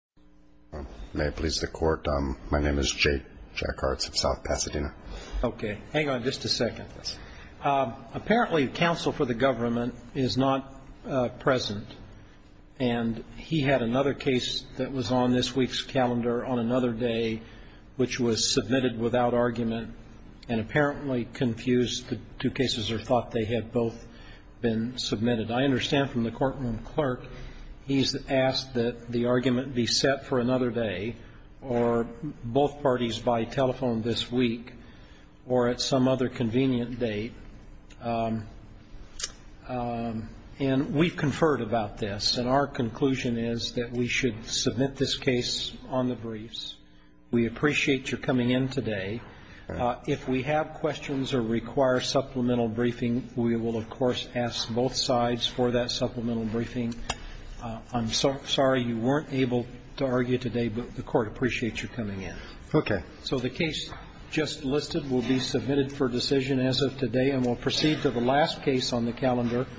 May it please the Court, my name is Jake Jackarts of South Pasadena. Okay, hang on just a second. Apparently counsel for the government is not present, and he had another case that was on this week's calendar on another day which was submitted without argument and apparently confused the two cases or thought they had both been submitted. I understand from the courtroom clerk he's asked that the argument be set for another day or both parties by telephone this week or at some other convenient date. And we've conferred about this, and our conclusion is that we should submit this case on the briefs. We appreciate your coming in today. If we have questions or require supplemental briefing, we will of course ask both sides for that supplemental briefing. I'm sorry you weren't able to argue today, but the Court appreciates your coming in. Okay. So the case just listed will be submitted for decision as of today, and we'll proceed to the last case on the calendar.